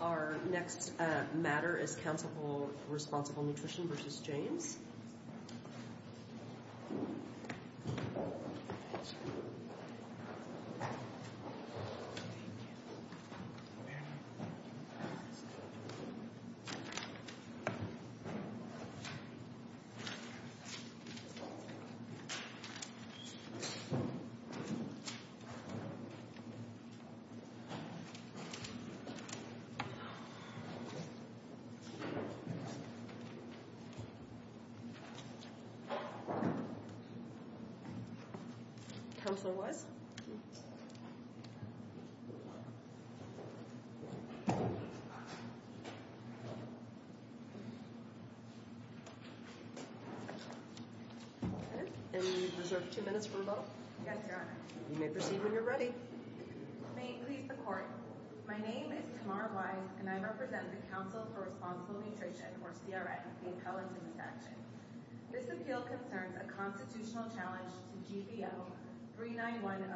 Our next matter is Council for Responsible Nutrition v. James Councilor Wise? And you deserve two minutes for rebuttal. Yes, Your Honor. You may proceed when you're ready. May it please the Court. My name is Tamara Wise and I represent the Council for Responsible Nutrition, or CRN, the appellant in this statute. This appeal concerns a constitutional challenge to GPL 39100,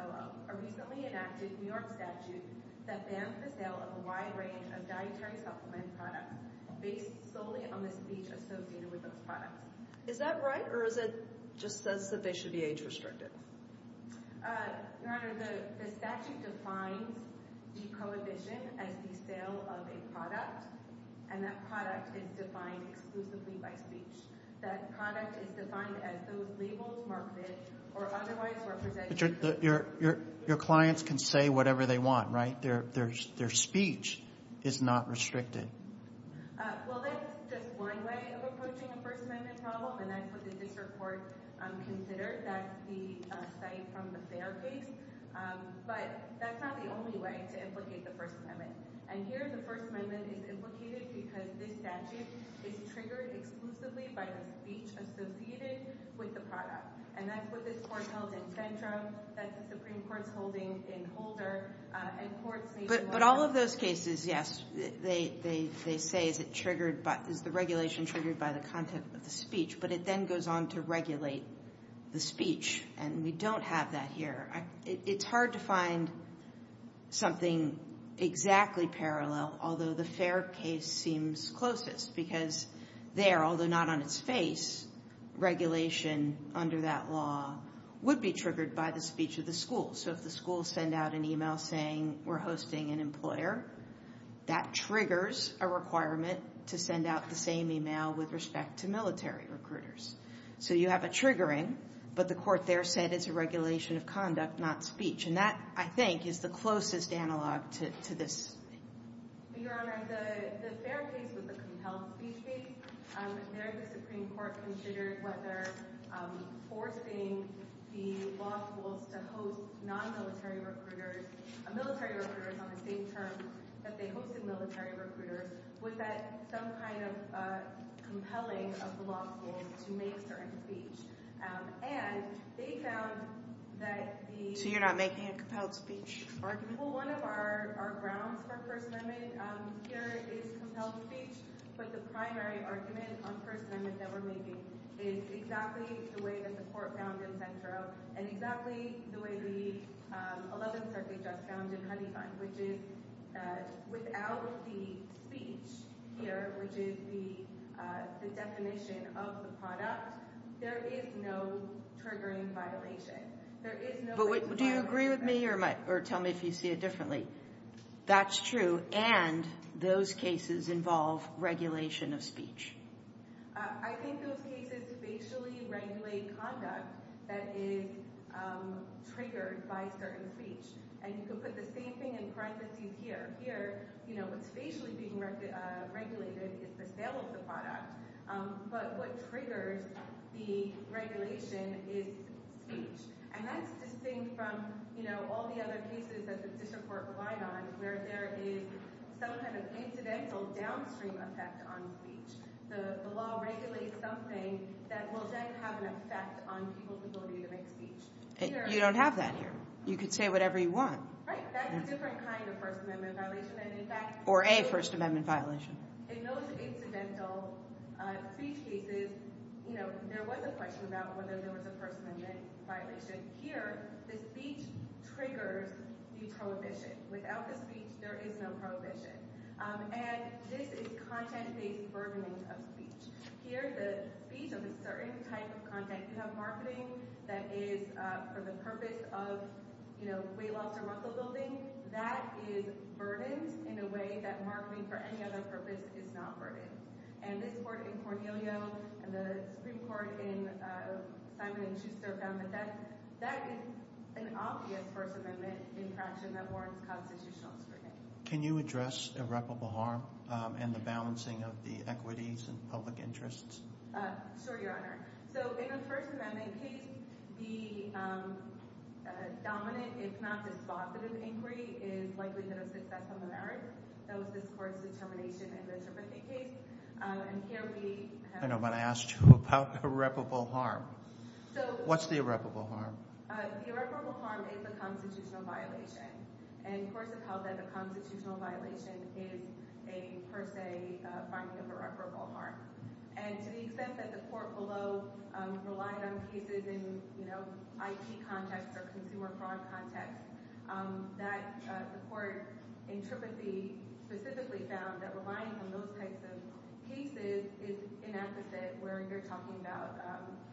a recently enacted New York statute that bans the sale of a wide range of dietary supplement products based solely on the speech associated with those products. Is that right or is it just says that they should be age-restricted? Your Honor, the statute defines the prohibition as the sale of a product and that product is defined exclusively by speech. That product is defined as those labels marketed or otherwise represented. But your clients can say whatever they want, right? Their speech is not restricted. Well, that's just one way of approaching a First Amendment problem and that's what considered. That's the site from the fair case. But that's not the only way to implicate the First Amendment. And here, the First Amendment is implicated because this statute is triggered exclusively by the speech associated with the product. And that's what this Court held in Centra, that the Supreme Court's holding in Holder, and courts... But all of those cases, yes, they say is the regulation triggered by the content of the to regulate the speech. And we don't have that here. It's hard to find something exactly parallel, although the fair case seems closest because there, although not on its face, regulation under that law would be triggered by the speech of the school. So if the school send out an email saying, we're hosting an employer, that triggers a requirement to send out the same email with respect to military recruiters. So you have a triggering, but the court there said it's a regulation of conduct, not speech. And that, I think, is the closest analog to this. Your Honor, the fair case was a compelled speech case. There, the Supreme Court considered whether forcing the law schools to host non-military recruiters, military recruiters on the same term that they hosted military recruiters, was that some kind of compelling of the law schools to make certain speech. And they found that the... So you're not making a compelled speech argument? Well, one of our grounds for First Amendment here is compelled speech, but the primary argument on First Amendment that we're making is exactly the way that the court found in which is the definition of the product. There is no triggering violation. There is no... But do you agree with me or tell me if you see it differently? That's true. And those cases involve regulation of speech. I think those cases facially regulate conduct that is triggered by certain speech. And you can put the same thing in parentheses here. But here, what's facially being regulated is the sale of the product. But what triggers the regulation is speech. And that's distinct from all the other cases that the district court relied on where there is some kind of incidental downstream effect on speech. The law regulates something that will then have an effect on people's ability to make speech. You don't have that here. You could say whatever you want. Right. That's a different kind of First Amendment violation. Or a First Amendment violation. In those incidental speech cases, there was a question about whether there was a First Amendment violation. Here, the speech triggers the prohibition. Without the speech, there is no prohibition. And this is content-based burdening of speech. Here, the speech of a certain type of content, you have marketing that is for the purpose of weight loss or muscle building. That is burdened in a way that marketing for any other purpose is not burdened. And this court in Cornelio and the Supreme Court in Simon and Schuster found that that is an obvious First Amendment infraction that warrants constitutional scrutiny. Can you address irreparable harm and the balancing of the equities and public interests? Sure, Your Honor. So in a First Amendment case, the dominant, if not dispositive, inquiry is likelihood of success on the merits. That was this court's determination in the Trippett case. And here we have— I know, but I asked you about irreparable harm. So— What's the irreparable harm? The irreparable harm is a constitutional violation. And courts have held that a constitutional violation is a, per se, finding of irreparable harm. And to the extent that the court below relied on cases in, you know, IT context or consumer fraud context, that the court in Trippett v. specifically found that relying on those types of cases is an advocate where you're talking about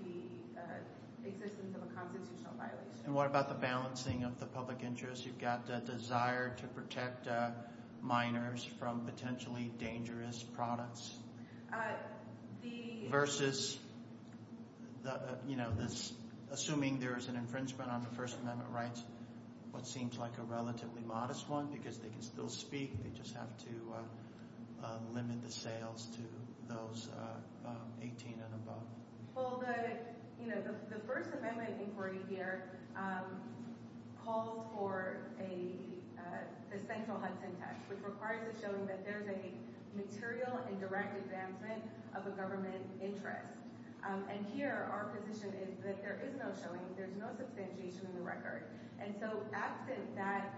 the existence of a constitutional violation. And what about the balancing of the public interest? You've got the desire to protect minors from potentially dangerous products. The— Versus, you know, this—assuming there is an infringement on the First Amendment rights, what seems like a relatively modest one because they can still speak, they just have to limit the sales to those 18 and above. Well, the, you know, the First Amendment inquiry here called for a central hunting text, which requires a showing that there's a material and direct advancement of a government interest. And here, our position is that there is no showing, there's no substantiation in the And so absent that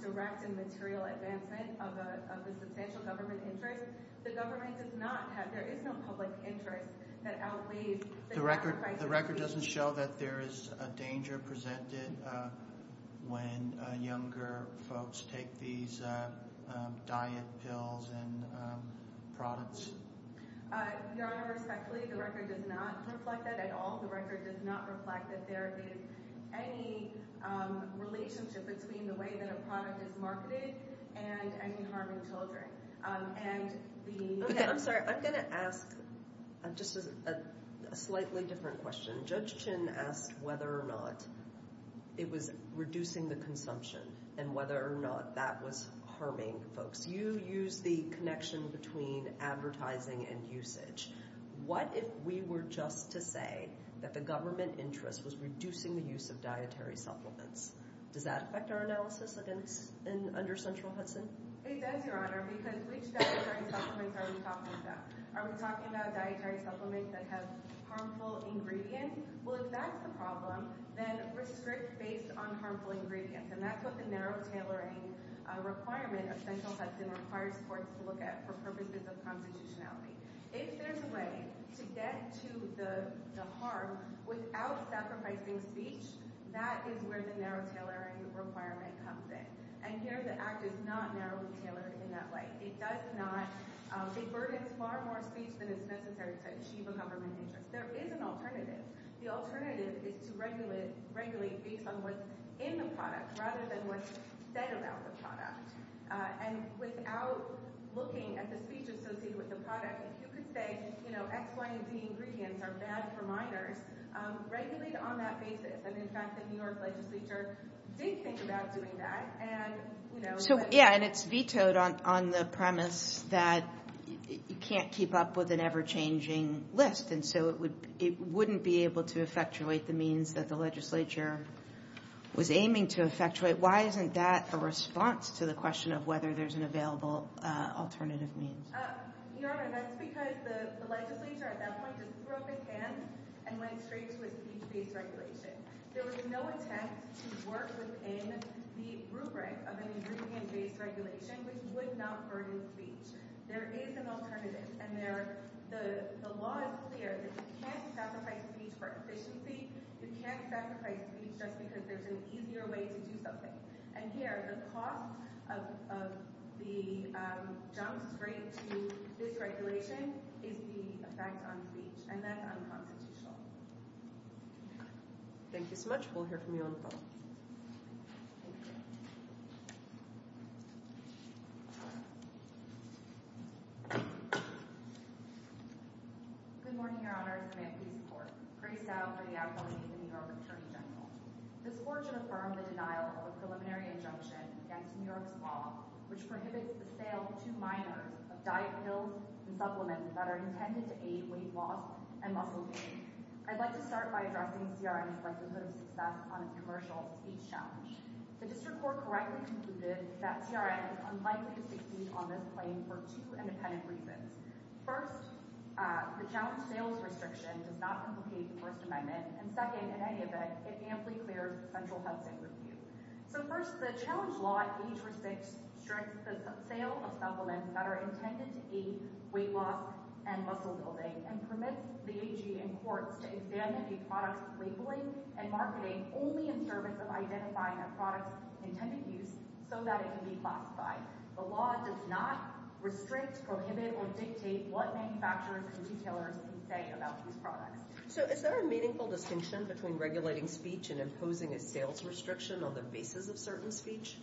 direct and material advancement of the substantial government interest, the government does not have—there is no public interest that outweighs— The record doesn't show that there is a danger presented when younger folks take these diet pills and products. Your Honor, respectfully, the record does not reflect that at all. The record does not reflect that there is any relationship between the way that a product is marketed and any harm to children. And the— Okay, I'm sorry. I'm going to ask just a slightly different question. Judge Chin asked whether or not it was reducing the consumption and whether or not that was harming folks. You used the connection between advertising and usage. What if we were just to say that the government interest was reducing the use of dietary supplements? Does that affect our analysis under central Hudson? It does, Your Honor, because which dietary supplements are we talking about? Are we talking about dietary supplements that have harmful ingredients? Well, if that's the problem, then restrict based on harmful ingredients. And that's what the narrow tailoring requirement of central Hudson requires courts to look at for purposes of constitutionality. If there's a way to get to the harm without sacrificing speech, that is where the narrow tailoring requirement comes in. And here the Act is not narrowly tailored in that way. It does not—it burdens far more speech than is necessary to achieve a government interest. There is an alternative. The alternative is to regulate based on what's in the product rather than what's said about the product. And without looking at the speech associated with the product, if you could say, you know, X, Y, and Z ingredients are bad for minors, regulate on that basis. And in fact, the New York legislature did think about doing that. So, yeah, and it's vetoed on the premise that you can't keep up with an ever-changing list. And so it wouldn't be able to effectuate the means that the legislature was aiming to effectuate. Why isn't that a response to the question of whether there's an available alternative means? Your Honor, that's because the legislature at that point just broke their hand and went straight to a speech-based regulation. There was no intent to work within the rubric of an ingredient-based regulation, which would not burden speech. There is an alternative. And the law is clear that you can't sacrifice speech for efficiency. You can't sacrifice speech just because there's an easier way to do something. And here, the cost of the jump straight to this regulation is the effect on speech. And that's unconstitutional. Thank you so much. We'll hear from you on the phone. Thank you. Good morning, Your Honor. I'm from Anthony's Court. Graced out by the ability of the New York Attorney General. This court should affirm the denial of a preliminary injunction against New York's law, which prohibits the sale to minors of diet pills and supplements that are intended to aid weight loss and muscle gain. I'd like to start by addressing CRM's likelihood of success on a commercial speech challenge. The district court correctly concluded that CRM is unlikely to succeed on this claim for two independent reasons. First, the challenge sales restriction does not complicate the First Amendment. And second, in any event, it amply clears the central housing review. So first, the challenge law age-restricts the sale of supplements that are intended to aid weight loss and muscle building and permits the AG and courts to examine a product's labeling and marketing only in service of identifying a product's intended use so that it can be classified. The law does not restrict, prohibit, or dictate what manufacturers and retailers can say about these products. So is there a meaningful distinction between regulating speech and imposing a sales restriction on the basis of certain speech?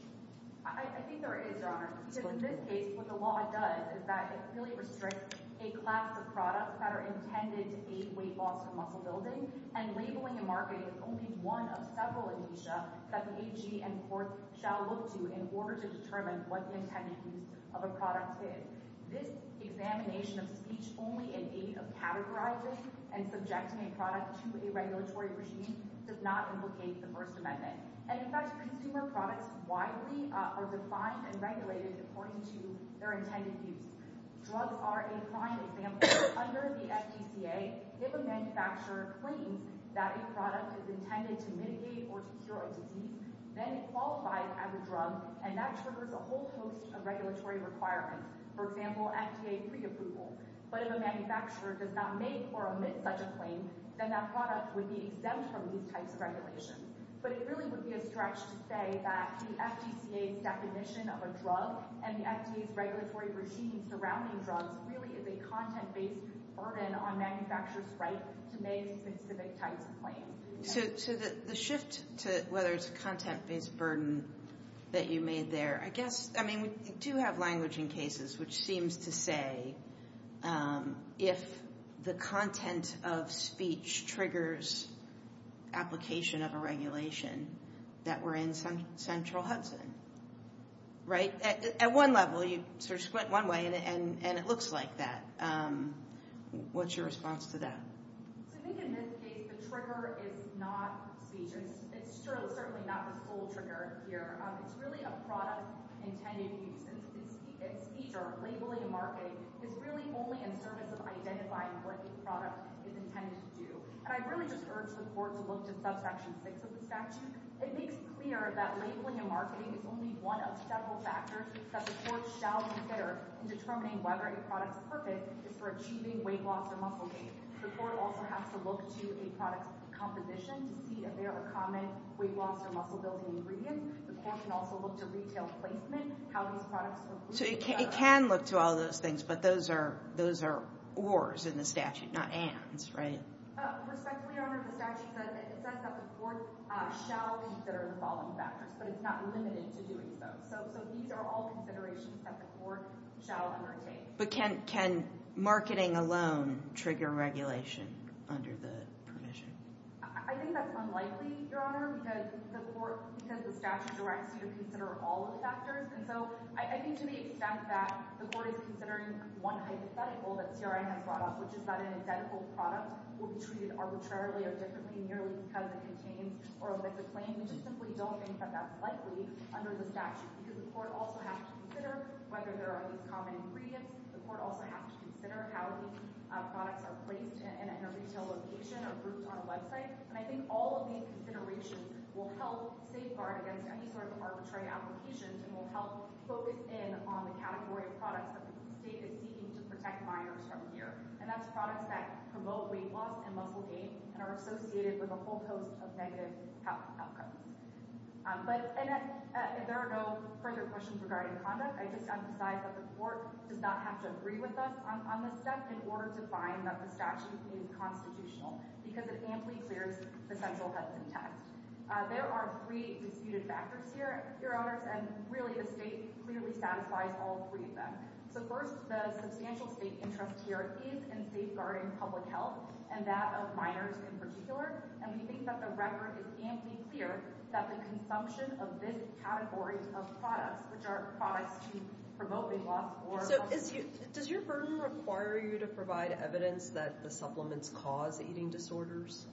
I think there is, Your Honor. Because in this case, what the law does is that it clearly restricts a class of products that are intended to aid weight loss and muscle building, and labeling and marketing is only one of several amnesia that the AG and courts shall look to in order to determine what the intended use of a product is. This examination of speech only in aid of categorizing and subjecting a product to a regulatory regime does not implicate the First Amendment. And in fact, consumer products widely are defined and regulated according to their intended use. Drugs are a prime example. Under the FDCA, if a manufacturer claims that a product is intended to mitigate or to cure a disease, then it qualifies as a drug, and that triggers a whole host of regulatory requirements, for example, FDA preapproval. But if a manufacturer does not make or omit such a claim, then that product would be exempt from these types of regulations. But it really would be a stretch to say that the FDCA's definition of a drug and the FDA's regulatory regime surrounding drugs really is a content-based burden on manufacturers' right to make specific types of claims. So the shift to whether it's a content-based burden that you made there, I guess, I mean, we do have language in cases which seems to say if the content of speech triggers application of a regulation that we're in Central Hudson, right? At one level, you sort of split one way, and it looks like that. What's your response to that? So I think in this case, the trigger is not speech. It's certainly not the sole trigger here. It's really a product intended use. It's either labeling or marketing. It's really only in service of identifying what the product is intended to do. And I really just urge the court to look to subsection 6 of the statute. It makes clear that labeling and marketing is only one of several factors that the court shall consider in determining whether a product's purpose is for achieving weight loss or muscle gain. The court also has to look to a product's composition to see if there are common weight loss or muscle-building ingredients. The court can also look to retail placement, how these products are— So it can look to all those things, but those are ors in the statute, not ands, right? Respectfully, Your Honor, the statute says that the court shall consider the following factors, but it's not limited to doing so. So these are all considerations that the court shall undertake. But can marketing alone trigger regulation under the provision? I think that's unlikely, Your Honor, because the statute directs you to consider all the factors. And so I think to the extent that the court is considering one hypothetical that CRI has brought up, which is that an identical product will be treated arbitrarily or differently merely because it contains or has a claim, we just simply don't think that that's likely under the statute because the court also has to consider whether there are these common ingredients. The court also has to consider how these products are placed in a retail location or grouped on a website. And I think all of these considerations will help safeguard against any sort of arbitrary application and will help focus in on the category of products that the state is seeking to protect minors from here. And that's products that promote weight loss and muscle gain and are associated with a whole host of negative outcomes. But if there are no further questions regarding conduct, I just have to decide that the court does not have to agree with us on this step in order to find that the statute is constitutional because it amply clears the central context. There are three disputed factors here, Your Honors, and really the state clearly satisfies all three of them. So first, the substantial state interest here is in safeguarding public health and that of minors in particular. And we think that the record is amply clear that the consumption of this category of products, which are products to promote weight loss or muscle gain... So does your burden require you to provide evidence that the supplements cause eating disorders?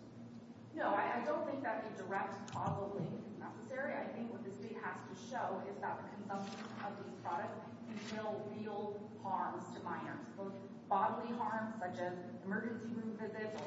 No, I don't think that a direct causality is necessary. I think what the state has to show is that the consumption of these products can reveal real harms to minors, both bodily harms such as emergency room visits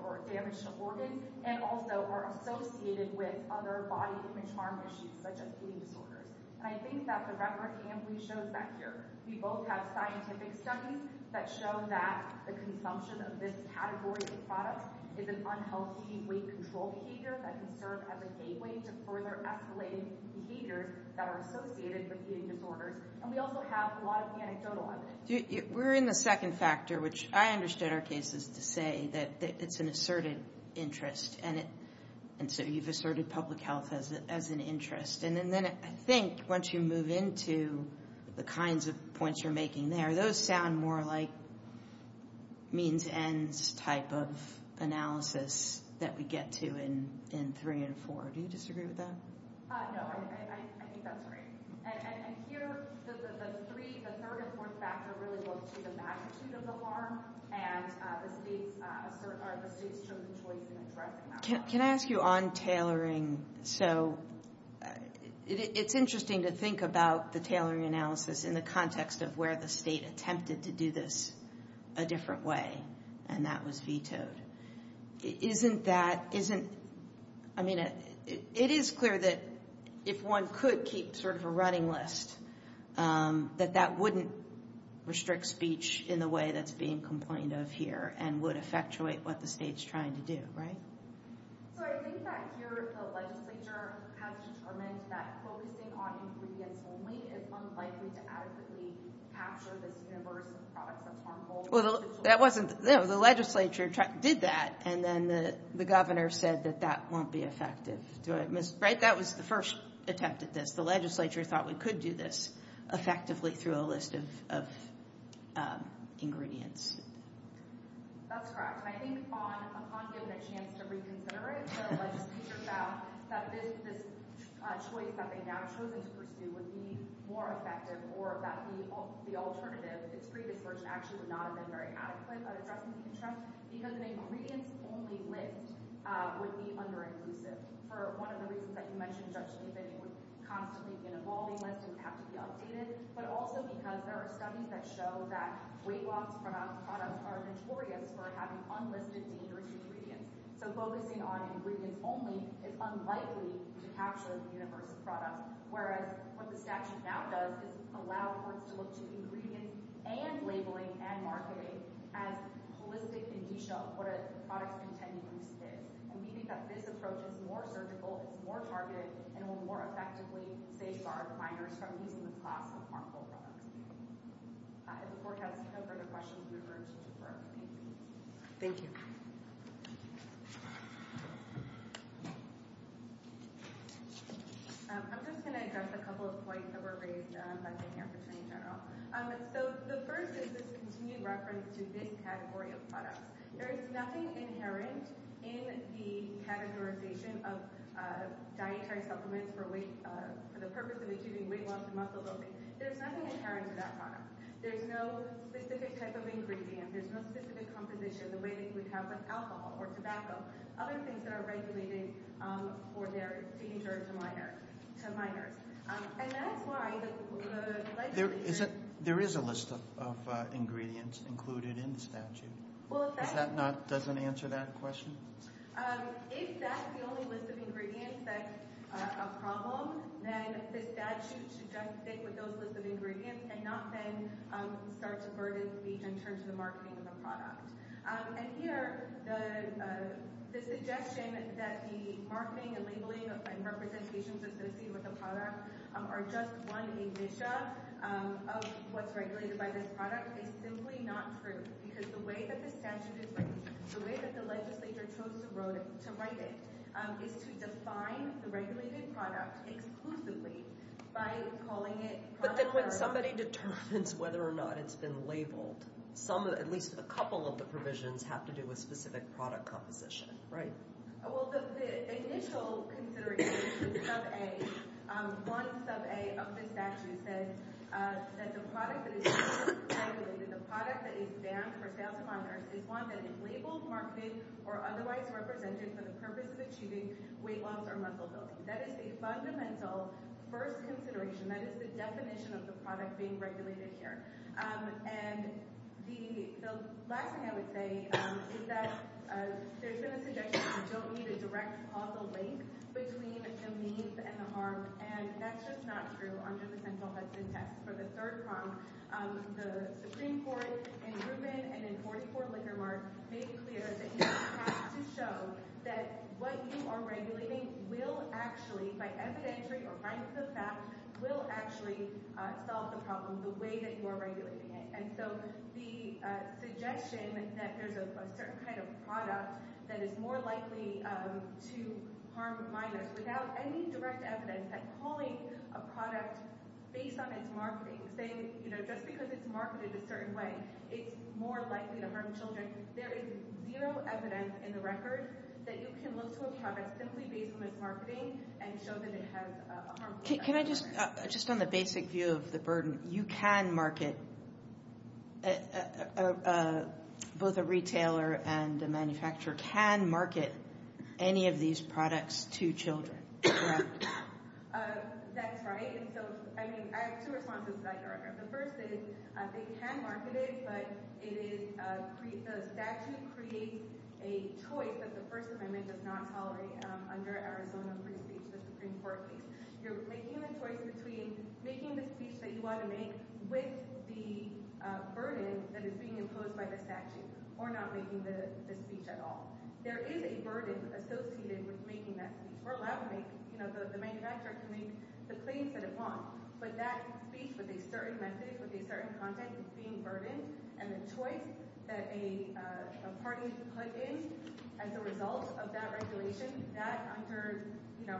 or damage to organs, and also are associated with other body image harm issues such as eating disorders. And I think that the record amply shows that here. We both have scientific studies that show that the consumption of this category of products is an unhealthy weight control behavior that can serve as a gateway to further escalating behaviors that are associated with eating disorders. And we also have a lot of anecdotal evidence. We're in the second factor, which I understood our cases to say that it's an asserted interest. And so you've asserted public health as an interest. And then I think once you move into the kinds of points you're making there, those sound more like means ends type of analysis that we get to in three and four. Do you disagree with that? No, I think that's right. And here, the third and fourth factor really look to the magnitude of the harm and the state's chosen choice in addressing that harm. Can I ask you on tailoring? So, it's interesting to think about the tailoring analysis in the context of where the state attempted to do this a different way, and that was vetoed. Isn't that, isn't, I mean, it is clear that if one could keep sort of a running list, that that wouldn't restrict speech in the way that's being complained of here and would effectuate what the state's trying to do, right? So, I think that here the legislature has determined that focusing on ingredients only is unlikely to adequately capture this universe of products that's harmful. Well, that wasn't, no, the legislature did that, and then the governor said that that won't be effective. Right, that was the first attempt at this. The legislature thought we could do this effectively through a list of ingredients. That's correct. And I think on giving a chance to reconsider it, the legislature found that this choice that they'd now chosen to pursue would be more effective or that the alternative, its previous version, actually would not have been very adequate at addressing the issue, because the ingredients only list would be under-inclusive. For one of the reasons that you mentioned, Judge Steven, it would constantly be an evolving list and have to be updated, but also because there are studies that show that weight loss products are notorious for having unlisted dangerous ingredients. So, focusing on ingredients only is unlikely to capture the universe of products, whereas what the statute now does is allow courts to look to ingredients and labeling and marketing as holistic indicia of what a product-containing use is. And we think that this approach is more surgical, it's more targeted, and will more effectively safeguard minors from using the cost of harmful products. If the court has no further questions, we urge you to defer. Thank you. I'm just going to address a couple of points that were raised by the Attorney General. So, the first is this continued reference to this category of products. There is nothing inherent in the categorization of dietary supplements for the purpose of achieving weight loss and muscle building. There's nothing inherent to that product. There's no specific type of ingredient, there's no specific composition, the way that you would have with alcohol or tobacco, other things that are regulated for their danger to minors. And that's why the legislation— There is a list of ingredients included in the statute. Does that not—doesn't answer that question? If that's the only list of ingredients that's a problem, then the statute should just stick with those list of ingredients and not then start to burden the—in terms of the marketing of the product. And here, the suggestion that the marketing and labeling and representations associated with the product are just one indicia of what's regulated by this product is simply not true. Because the way that the statute is written, the way that the legislature chose to write it, is to define the regulated product exclusively by calling it— But then when somebody determines whether or not it's been labeled, at least a couple of the provisions have to do with specific product composition, right? Well, the initial consideration, the sub-A, one sub-A of the statute says that the product that is being regulated, the product that is banned for sale to minors, is one that is labeled, marketed, or otherwise represented for the purpose of achieving weight loss or muscle building. That is a fundamental first consideration. That is the definition of the product being regulated here. And the last thing I would say is that there's been a suggestion that you don't need a direct causal link between the means and the harm, and that's just not true under the central Hudson test. For the third prong, the Supreme Court, in Rubin and in 44 Lickermark, made it clear that you have to show that what you are regulating will actually, by evidentiary or right to the fact, will actually solve the problem the way that you are regulating it. And so the suggestion that there's a certain kind of product that is more likely to harm minors without any direct evidence at calling a product based on its marketing, saying, you know, just because it's marketed a certain way, it's more likely to harm children, there is zero evidence in the record that you can look to a product simply based on its marketing and show that it has a harmful effect on minors. Can I just, just on the basic view of the burden, you can market, both a retailer and a manufacturer can market any of these products to children, correct? That's right. And so, I mean, I have two responses to that, Erica. The first is they can market it, but it is, the statute creates a choice that the First Amendment does not tolerate under Arizona free speech, the Supreme Court case. You're making the choice between making the speech that you want to make with the burden that is being imposed by the statute or not making the speech at all. There is a burden associated with making that speech. We're allowed to make, you know, the manufacturer can make the claims that it wants, but that speech with a certain message, with a certain content is being burdened, and the choice that a party is put in as a result of that regulation, that under, you know,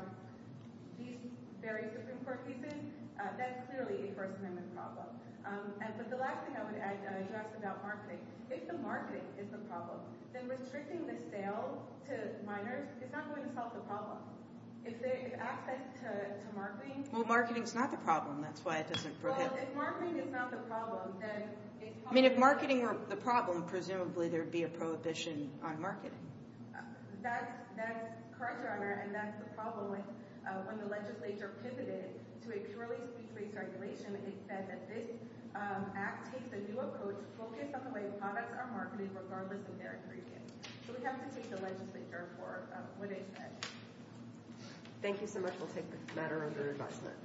these very Supreme Court cases, that's clearly a First Amendment problem. And the last thing I would address about marketing, if the marketing is the problem, then restricting the sale to minors is not going to solve the problem. If they have access to marketing... Well, marketing is not the problem. That's why it doesn't prohibit... Well, if marketing is not the problem, then... I mean, if marketing were the problem, presumably there would be a prohibition on marketing. That's correct, Your Honor, and that's the problem with when the legislature pivoted to a purely speech-based regulation, it said that this act takes a new approach focused on the way products are marketed regardless of their ingredients. So we have to take the legislature for what it said. Thank you so much. We'll take the matter under adjustment.